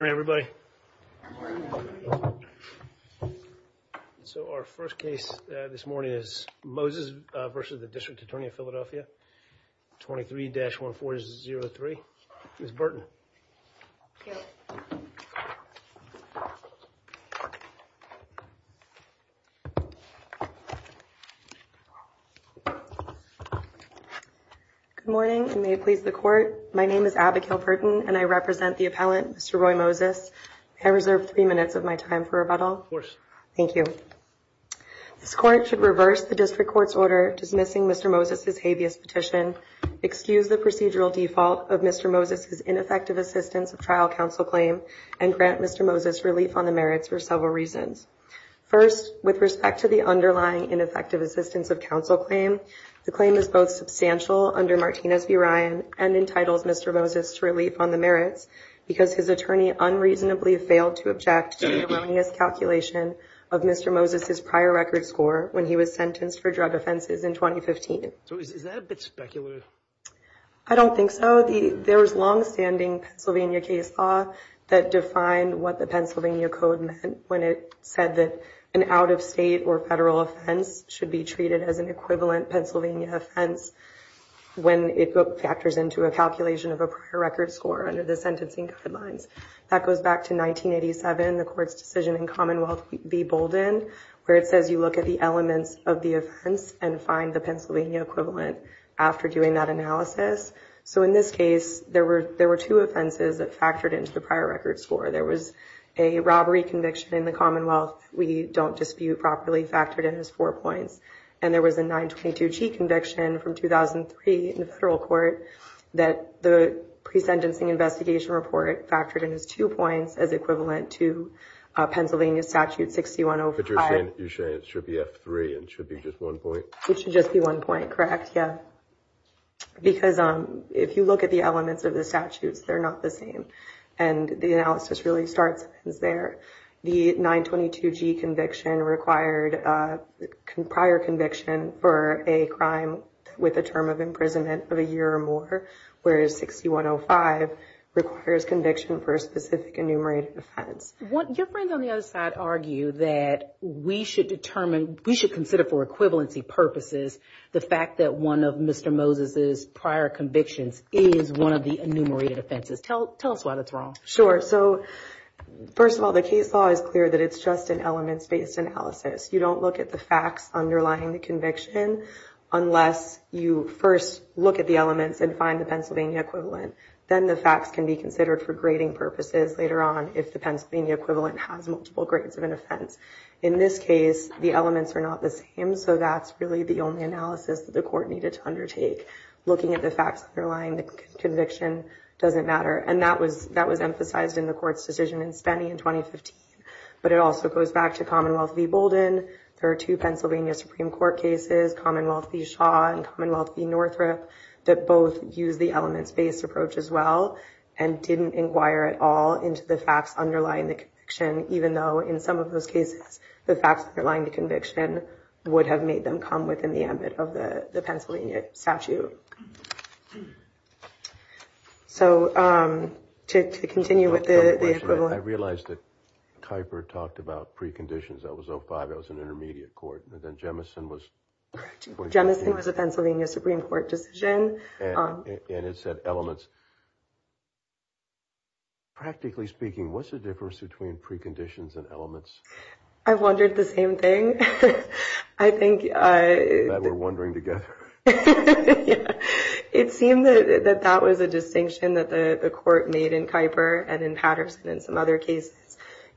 Hi everybody. So our first case this morning is Moses v. DA Philadelphia, 23-1403. Ms. Burton. Good morning and may it please the court. My name is Abigail Burton and I represent the appellant, Mr. Roy Moses. May I reserve three minutes of my time for rebuttal? Of course. Thank you. This court should reverse the district court's order dismissing Mr. Moses' habeas petition, excuse the procedural default of Mr. Moses' ineffective assistance of trial counsel claim, and grant Mr. Moses relief on the merits for several reasons. First, with respect to the underlying ineffective assistance of counsel claim, the claim is both substantial under Martinez v. Ryan and entitles Mr. Moses to relief on the merits because his attorney unreasonably failed to object to the erroneous calculation of Mr. Moses' prior record score when he was sentenced for drug offenses in 2015. So is that a bit speculative? I don't think so. There was long-standing Pennsylvania case law that defined what the Pennsylvania Code meant when it said that an out-of-state or federal offense should be treated as an equivalent Pennsylvania offense when it factors into a calculation of a prior record score under the sentencing guidelines. That goes back to 1987, the court's decision in Commonwealth v. Bolden, where it says you look at the elements of the offense and find the Pennsylvania equivalent after doing that analysis. So in this case, there were two offenses that factored into the prior record score. There was a robbery conviction in the Commonwealth that we don't dispute properly factored in as four points, and there was a 922G conviction from 2003 in the federal court that the pre-sentencing investigation report factored in as two points as equivalent to Pennsylvania Statute 6105. But you're saying it should be F3 and should be just one point? It should just be one point, correct, yeah. Because if you look at the elements of the not the same. And the analysis really starts there. The 922G conviction required a prior conviction for a crime with a term of imprisonment of a year or more, whereas 6105 requires conviction for a specific enumerated offense. Your friends on the other side argue that we should determine, we should consider for equivalency purposes, the fact that one of Mr. Moses' prior convictions is one of the enumerated offenses. Tell us why that's wrong. Sure. So first of all, the case law is clear that it's just an elements-based analysis. You don't look at the facts underlying the conviction unless you first look at the elements and find the Pennsylvania equivalent. Then the facts can be considered for grading purposes later on if the Pennsylvania equivalent has multiple grades of an offense. In this case, the elements are not the same. So that's really the only analysis that the court needed to undertake. Looking at the facts underlying the conviction doesn't matter. And that was emphasized in the court's decision in Spenny in 2015. But it also goes back to Commonwealth v. Bolden. There are two Pennsylvania Supreme Court cases, Commonwealth v. Shaw and Commonwealth v. Northrop, that both use the elements-based approach as well and didn't inquire at all into the facts underlying the conviction, even though in some of those cases, the facts underlying the conviction would have made them come within the ambit of the Pennsylvania statute. So to continue with the equivalent... I realized that Kuyper talked about preconditions. That was 05. That was an intermediate court. And then Jemison was... Jemison was a Pennsylvania Supreme Court decision. And it said elements. Practically speaking, what's the difference between preconditions and elements? I wondered the same thing. I think... That we're wondering together. It seemed that that was a distinction that the court made in Kuyper and in Patterson and some other cases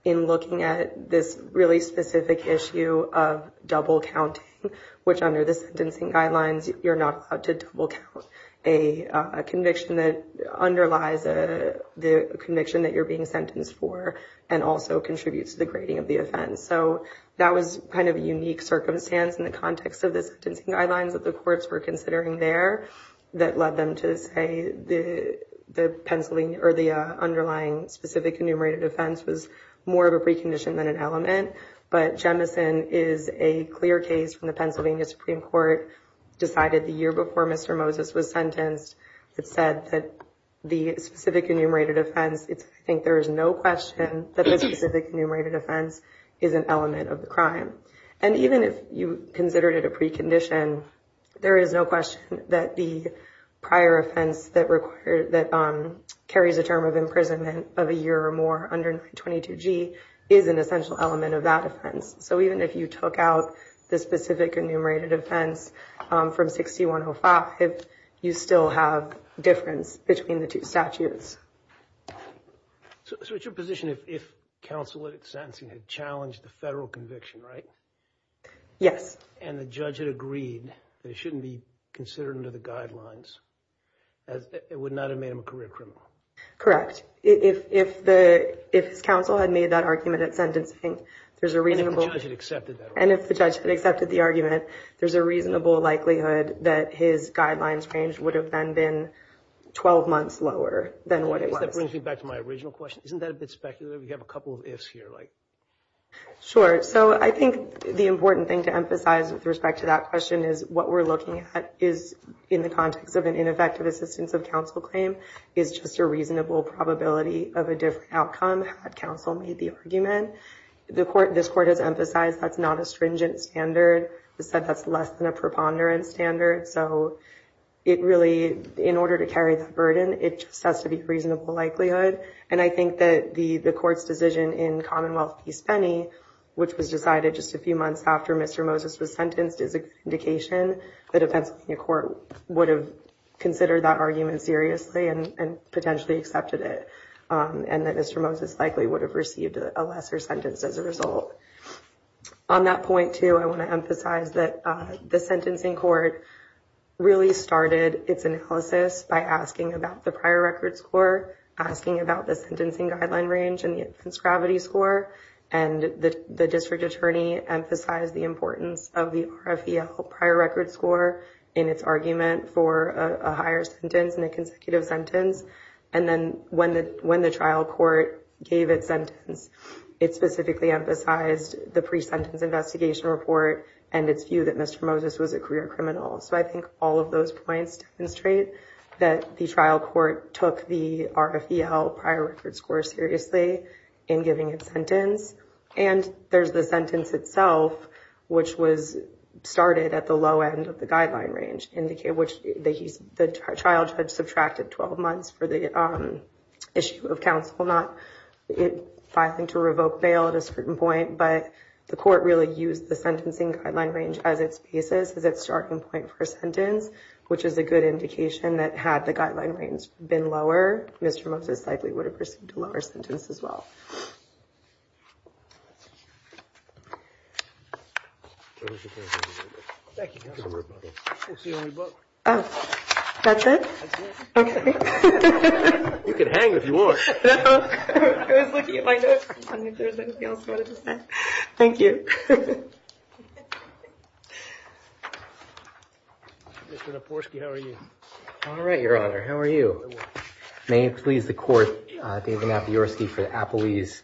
in looking at this really specific issue of double counting, which under the sentencing guidelines, you're not allowed to double count a conviction that underlies the conviction that you're being sentenced for and also contributes to the grading of the offense. So that was kind of a unique circumstance in the context of the sentencing guidelines that the courts were considering there that led them to say the Pennsylvania or the underlying specific enumerated offense was more of a precondition than an element. But Jemison is a clear case from the Pennsylvania Supreme Court, decided the year before Mr. Moses was sentenced, that said that the specific enumerated offense, I think there is no question that the specific enumerated offense is an element of the crime. And even if you considered it a precondition, there is no question that the prior offense that requires... That carries a term of imprisonment of a year or more under 22G is an essential element of that offense. So even if you took out the specific enumerated offense from 6105, you still have a difference between the two statutes. So it's your position if counsel at sentencing had challenged the federal conviction, right? Yes. And the judge had agreed that it shouldn't be considered under the guidelines, it would not have made him a career criminal? Correct. If his counsel had made that argument at sentencing, there's a reasonable... And if the judge had accepted that argument. And if the judge had accepted the argument, there's a reasonable likelihood that his guidelines change would have then been 12 months lower than what it was. That brings me back to my original question. Isn't that a bit speculative? We have a couple of ifs here. Sure. So I think the important thing to emphasize with respect to that question is what we're looking at is in the context of an ineffective assistance of counsel claim is just a reasonable probability of a different outcome had counsel made the argument. This court has emphasized that's not a stringent standard. It said that's less than a preponderance standard. So it really, in order to carry that burden, it just has to be reasonable likelihood. And I think that the court's decision in Commonwealth v. Spenny, which was decided just a few months after Mr. Moses was sentenced, is an indication that a Pennsylvania court would have considered that argument seriously and potentially accepted it, and that Mr. Moses likely would have received a lesser sentence as a result. On that point, too, I want to emphasize that the sentencing court really started its analysis by asking about the prior record score, asking about the sentencing guideline range and the infants' gravity score. And the district attorney emphasized the importance of the RFEL prior record score in its argument for a higher sentence and a consecutive sentence. And then when the trial court gave its sentence, it specifically emphasized the pre-sentence investigation report and its view that Mr. Moses was a career criminal. So I think all of those points demonstrate that the trial court took the RFEL prior record score seriously in giving its sentence. And there's the sentence itself, which was started at the low end of the guideline range, which the trial judge subtracted 12 months for the issue of counsel not filing to revoke bail at a certain point. But the court really used the sentencing guideline range as its basis, as its starting point for a sentence, which is a good indication that had the guideline range been lower, Mr. Moses likely would have received a lower sentence as well. All right, Your Honor. How are you? May it please the court, David Mapiorski for Applebee's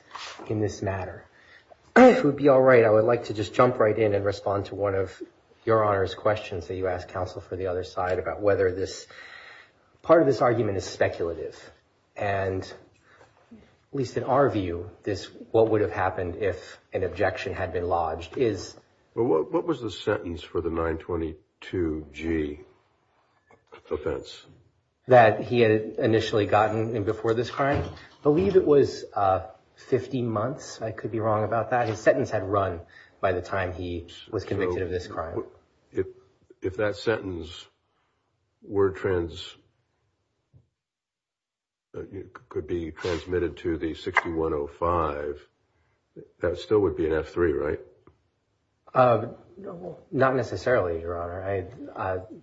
in this matter. If it would be all right, I would like to just jump right in and respond to one of your Honor's questions that you asked counsel for the other side about whether this, part of this argument is speculative. And at least in our view, this, what would have happened if an objection had been lodged is... Well, what was the sentence for the 922G offense? That he had initially gotten before this crime? I believe it was 15 months. I could be wrong about that. His sentence had run by the time he was convicted of this crime. If that sentence could be transmitted to the 6105, that still would be an F3, right? Not necessarily, Your Honor.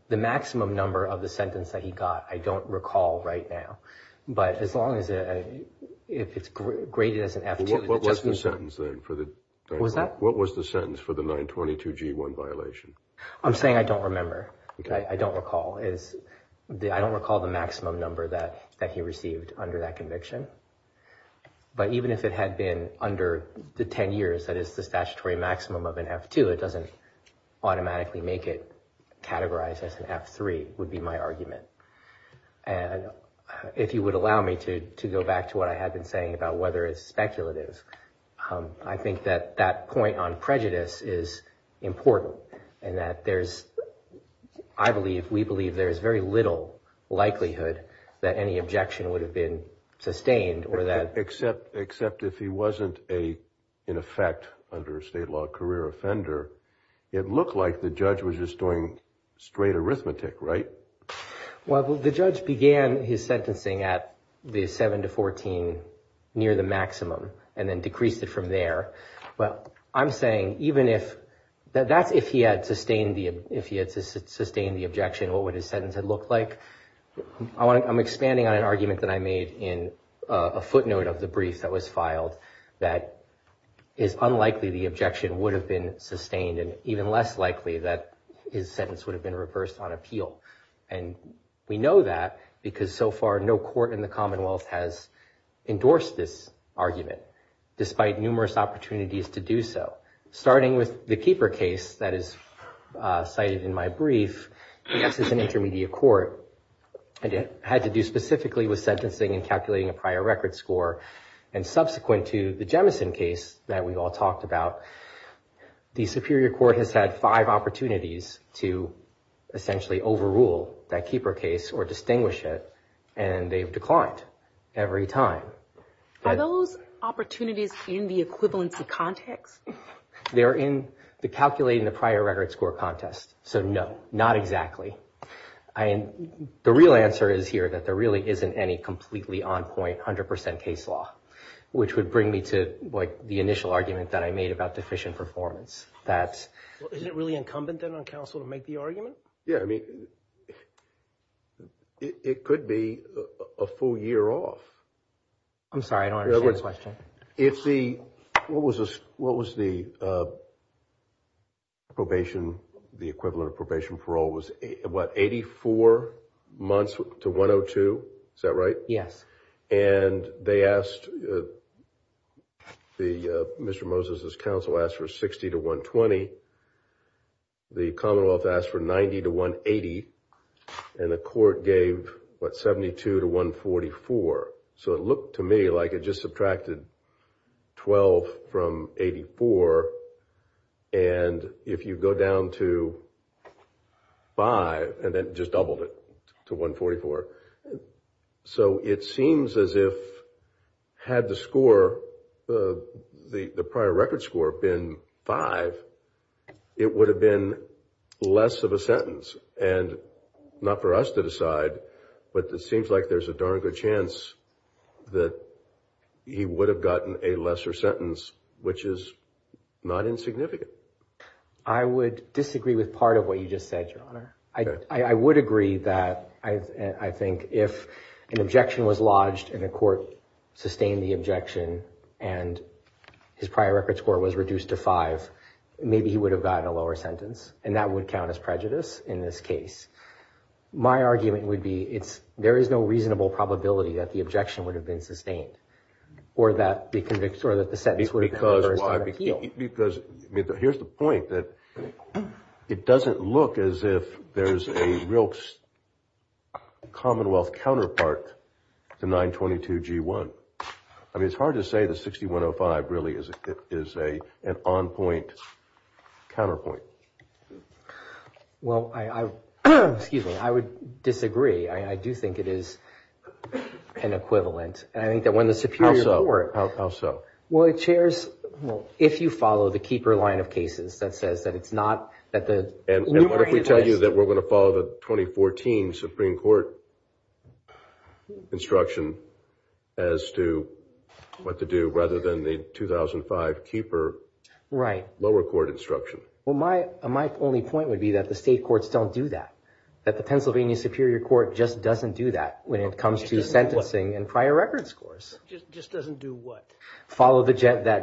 The maximum number of the sentence that he got, I don't recall right now. But as long as if it's graded as an F2... What was the sentence then for the 922G1 violation? I'm saying I don't remember. I don't recall. I don't recall the maximum number that he received under that conviction. But even if it had been under the 10 years, that is the statutory maximum of an F2, it automatically make it categorized as an F3 would be my argument. And if you would allow me to go back to what I had been saying about whether it's speculative, I think that that point on prejudice is important and that there's, I believe, we believe there's very little likelihood that any objection would have been sustained or that... Except if he wasn't in effect under a state law career offender, it looked like the judge was just doing straight arithmetic, right? Well, the judge began his sentencing at the 7 to 14 near the maximum and then decreased it from there. Well, I'm saying even if that's if he had sustained the objection, what would his sentence had looked like? I'm expanding on an argument that I made in a footnote of the brief that was filed that is unlikely the objection would have been sustained and even less likely that his sentence would have been reversed on appeal. And we know that because so far no court in the Commonwealth has endorsed this argument, despite numerous opportunities to do so. Starting with the Keeper case that is cited in my brief, yes, it's an intermediate court and it had to do specifically with sentencing and calculating a prior record score. And subsequent to the Jemison case that we've all talked about, the Superior Court has had five opportunities to essentially overrule that Keeper case or distinguish it and they've declined every time. Are those opportunities in the equivalency context? They're in the calculating the prior record score contest. So no, not exactly. The real answer is here that there really isn't any completely on point, 100% case law, which would bring me to the initial argument that I made about deficient performance. Isn't it really incumbent then on counsel to make the argument? Yeah, I mean, it could be a full year off. I'm sorry, I don't understand the question. It's the, what was this? What was the probation? The equivalent of probation parole was, what, 84 months to 102? Is that right? Yes. And they asked, Mr. Moses' counsel asked for 60 to 120. The Commonwealth asked for 90 to 180 and the court gave, what, 72 to 144. So it looked to me like it just subtracted 12 from 84 and if you go down to five and then just doubled it to 144. So it seems as if had the score, the prior record score been five, it would have been less of a sentence and not for us to decide, but it seems like there's a darn good chance that he would have gotten a lesser sentence, which is not insignificant. I would disagree with part of what you just said, Your Honor. I would agree that I think if an objection was lodged and the court sustained the objection and his prior record score was reduced to five, maybe he would have gotten a lower sentence and that would count as prejudice in this case. My argument would be it's, there is no reasonable probability that the objection would have been sustained or that the conviction or that the sentence would have been lower than appeal. Because here's the point that it doesn't look as if there's a real Commonwealth counterpart to 922 G1. I mean, it's hard to say the 6105 really is an on-point counterpoint. Well, I, excuse me, I would disagree. I do think it is an equivalent. And I think that when the Superior Court. How so? Well, it shares, well, if you follow the Keeper line of cases that says that it's not, that the numerator list. And what if we tell you that we're going to follow the 2014 Supreme Court instruction as to what to do rather than the 2005 Keeper lower court instruction? Well, my only point would be that the state courts don't do that. That the Pennsylvania Superior Court just doesn't do that when it comes to sentencing and prior record scores. Just doesn't do what? Follow that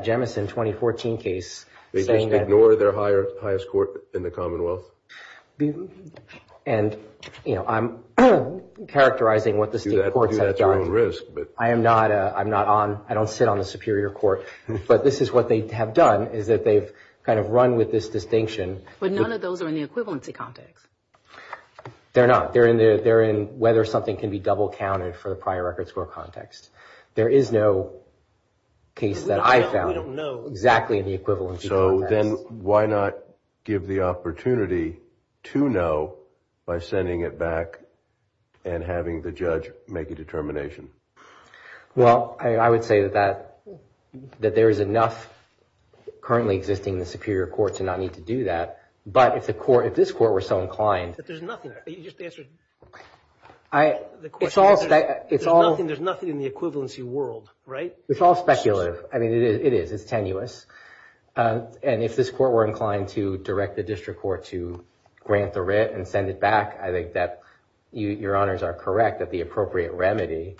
Jemison 2014 case. They just ignore their highest court in the Commonwealth. And, you know, I'm characterizing what the state courts have done. Do that at your own risk. I am not, I'm not on, I don't sit on the Superior Court. But this is what they have done is that they've kind of run with this distinction. But none of those are in the equivalency context. They're not. They're in whether something can be double counted for the prior record score context. There is no case that I found. We don't know. Exactly in the equivalency context. So then why not give the opportunity to know by sending it back and having the judge make a determination? Well, I would say that there is enough currently existing in the Superior Court to not need to do that. But if the court, if this court were so inclined. But there's nothing. You just answered the question. There's nothing in the equivalency world, right? It's all speculative. I mean, it is, it's tenuous. And if this court were inclined to direct the district court to grant the writ and send it back, I think that your honors are correct. That the appropriate remedy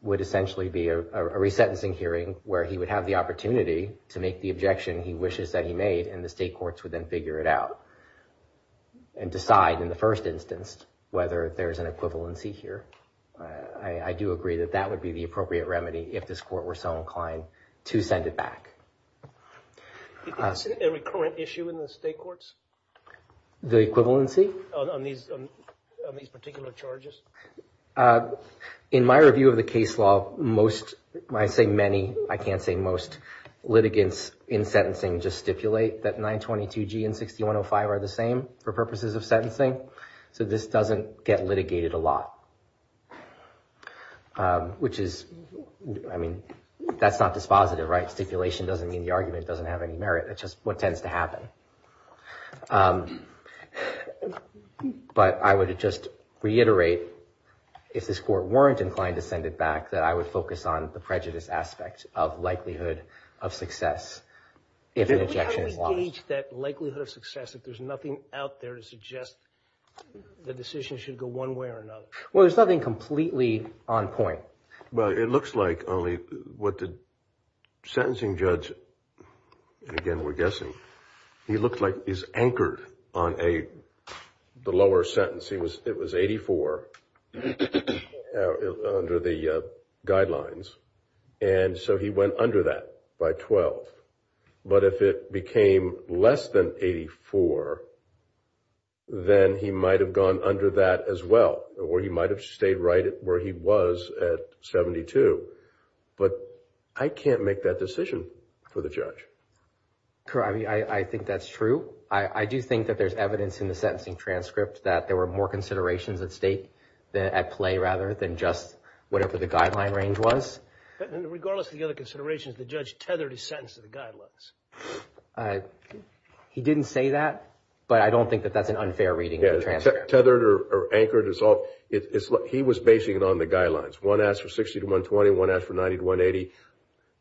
would essentially be a resentencing hearing where he would have the opportunity to make the objection he wishes that he made. And the state courts would then figure it out and decide in the first instance whether there's an equivalency here. I do agree that that would be the appropriate remedy if this court were so inclined to send it back. Do you think it's a recurrent issue in the state courts? The equivalency? On these particular charges? In my review of the case law, most, when I say many, I can't say most, litigants in sentencing just stipulate that 922G and 6105 are the same for purposes of sentencing. So this doesn't get litigated a lot. Which is, I mean, that's not dispositive, right? Stipulation doesn't mean the argument doesn't have any merit. It's just what tends to happen. But I would just reiterate, if this court weren't inclined to send it back, that I would focus on the prejudice aspect of likelihood of success if an objection is lost. How do we gauge that likelihood of success if there's nothing out there to suggest the decision should go one way or another? Well, there's nothing completely on point. Well, it looks like only what the sentencing judge, and again, we're guessing, he looked like he's anchored on the lower sentence. It was 84 under the guidelines. And so he went under that by 12. But if it became less than 84, then he might have gone under that as well, or he might have stayed right where he was at 72. But I can't make that decision for the judge. I think that's true. I do think that there's evidence in the sentencing transcript that there were more considerations at stake, at play rather, than just whatever the guideline range was. Regardless of the other considerations, the judge tethered his sentence to the guidelines. He didn't say that, but I don't think that that's an unfair reading of the transcript. Tethered or anchored. He was basing it on the guidelines. One asked for 60 to 120, one asked for 90 to 180.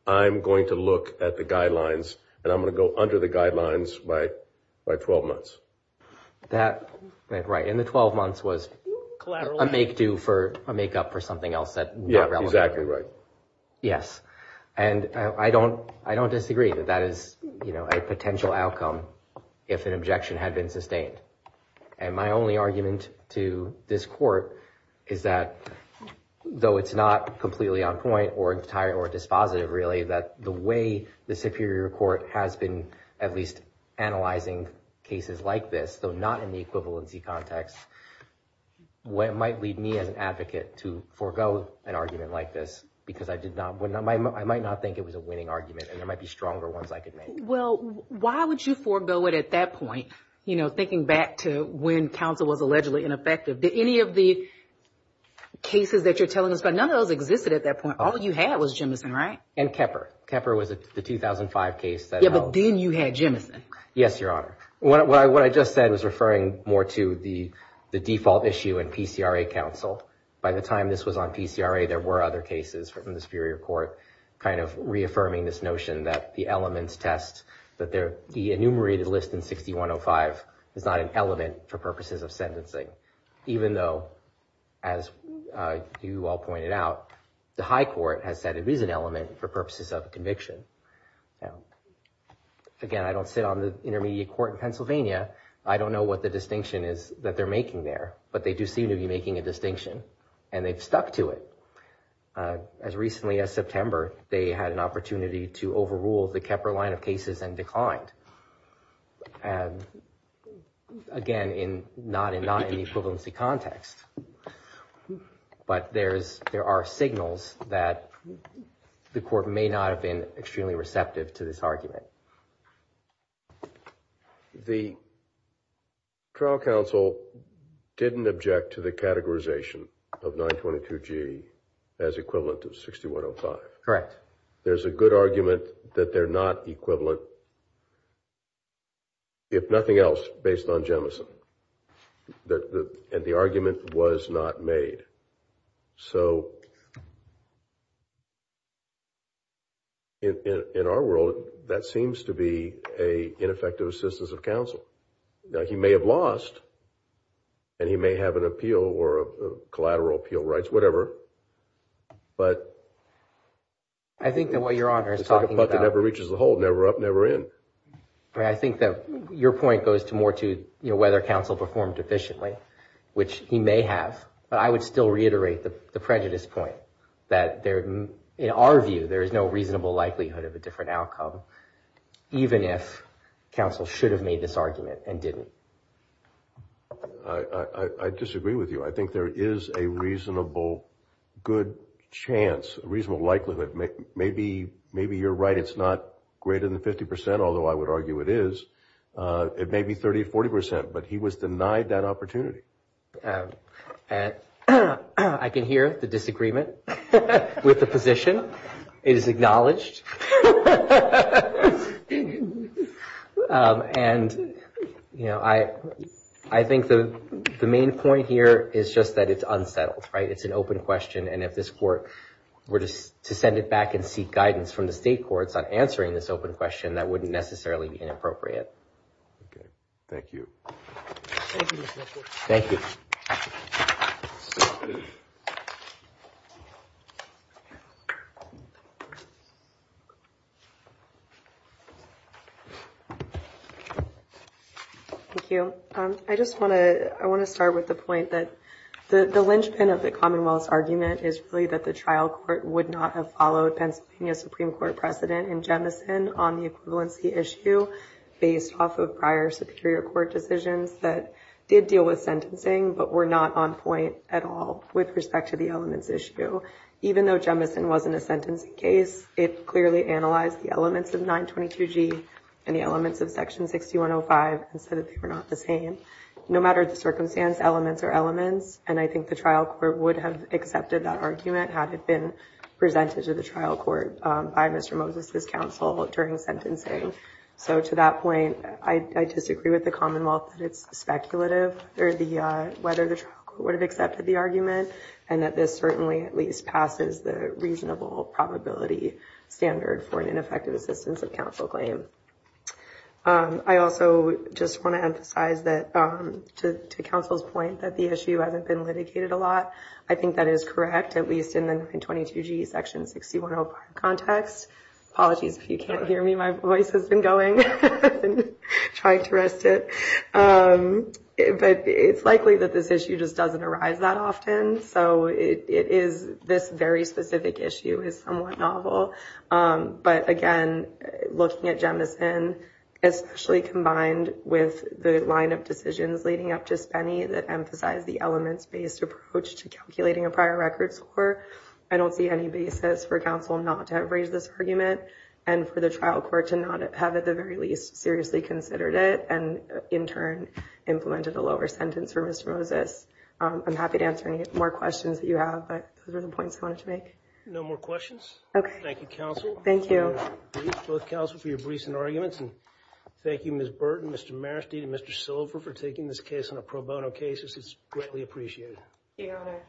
I'm going to look at the guidelines, and I'm going to go under the guidelines by 12 months. That, right, in the 12 months was a make-do for, a make-up for something else that's not relevant. Exactly right. Yes, and I don't disagree that that is a potential outcome if an objection had been sustained. And my only argument to this court is that though it's not completely on point or dispositive really, that the way the Superior Court has been at least analyzing cases like this, though not in the equivalency context, what might lead me as an advocate to forego an argument like this because I might not think it was a winning argument and there might be stronger ones I could make. Well, why would you forego it at that point? You know, thinking back to when counsel was allegedly ineffective, did any of the cases that you're telling us about, none of those existed at that point. All you had was Jemison, right? And Kepper. Kepper was the 2005 case that... Yeah, but then you had Jemison. Yes, Your Honor. What I just said was referring more to the default issue in PCRA counsel. By the time this was on PCRA, there were other cases from the Superior Court kind of reaffirming this notion that the elements test, that the enumerated list in 6105 is not an element for purposes of sentencing. Even though, as you all pointed out, the High Court has said it is an element for purposes of conviction. Again, I don't sit on the intermediate court in Pennsylvania. I don't know what the distinction is that they're making there, but they do seem to be making a distinction and they've stuck to it. As recently as September, they had an opportunity to overrule the Kepper line of cases and declined. And again, not in the equivalency context, but there are signals that the court may not have been extremely receptive to this argument. The trial counsel didn't object to the categorization of 922G as equivalent to 6105. Correct. There's a good argument that they're not equivalent if nothing else, based on Jemison. And the argument was not made. So, in our world, that seems to be an ineffective assistance of counsel. Now, he may have lost and he may have an appeal or collateral appeal rights, whatever, but I think that what you're talking about never reaches the whole, never up, never in. I think that your point goes to more to, you know, whether counsel performed efficiently, which he may have, but I would still reiterate the prejudice point that in our view, there is no reasonable likelihood of a different outcome, even if counsel should have made this argument and didn't. I disagree with you. I think there is a reasonable, good chance, reasonable likelihood, maybe you're right, it's not greater than 50%, although I would argue it is, it may be 30, 40%, but he was denied that opportunity. I can hear the disagreement with the position. It is acknowledged. And, you know, I think the main point here is just that it's unsettled, right? It's an open question. And if this court were to send it back and seek guidance from the state courts on answering this open question, that wouldn't necessarily be inappropriate. Okay, thank you. Thank you. Thank you. I just want to, I want to start with the point that the linchpin of the Commonwealth's argument is really that the trial court would not have followed Pennsylvania Supreme Court precedent in Jemison on the equivalency issue based off of prior Superior Court decisions that did deal with sentencing, but were not on point at all with respect to the elements issue. Even though Jemison wasn't a sentencing case, it clearly analyzed the elements of 922 G and the elements of section 6105 and said that they were not the same. No matter the circumstance, elements are elements. And I think the trial court would have accepted that argument had it been presented to the trial court by Mr. Moses's counsel during the sentencing. So to that point, I disagree with the Commonwealth that it's speculative or the, whether the trial court would have accepted the argument and that this certainly at least passes the reasonable probability standard for an ineffective assistance of counsel claim. I also just want to emphasize that to counsel's point that the issue hasn't been litigated a lot. I think that is correct, at least in the 922 G section 6105 context. Apologies if you can't hear me, my voice has been going and trying to rest it. But it's likely that this issue just doesn't arise that often. So it is, this very specific issue is somewhat novel. But again, looking at Jemison, especially combined with the line of decisions leading up to Spenny that emphasize the elements-based approach to calculating a prior record score, I don't see any basis for counsel not to have raised this argument and for the trial court to not have, at the very least, seriously considered it and in turn implemented a lower sentence for Mr. Moses. I'm happy to answer any more questions that you have, but those are the points I wanted to make. No more questions. Okay. Thank you, counsel. Thank you. Both counsel for your briefs and arguments. And thank you, Ms. Burton, Mr. Marasty, and Mr. Silver for taking this case on a pro bono case. This is greatly appreciated. Thank you, Your Honor.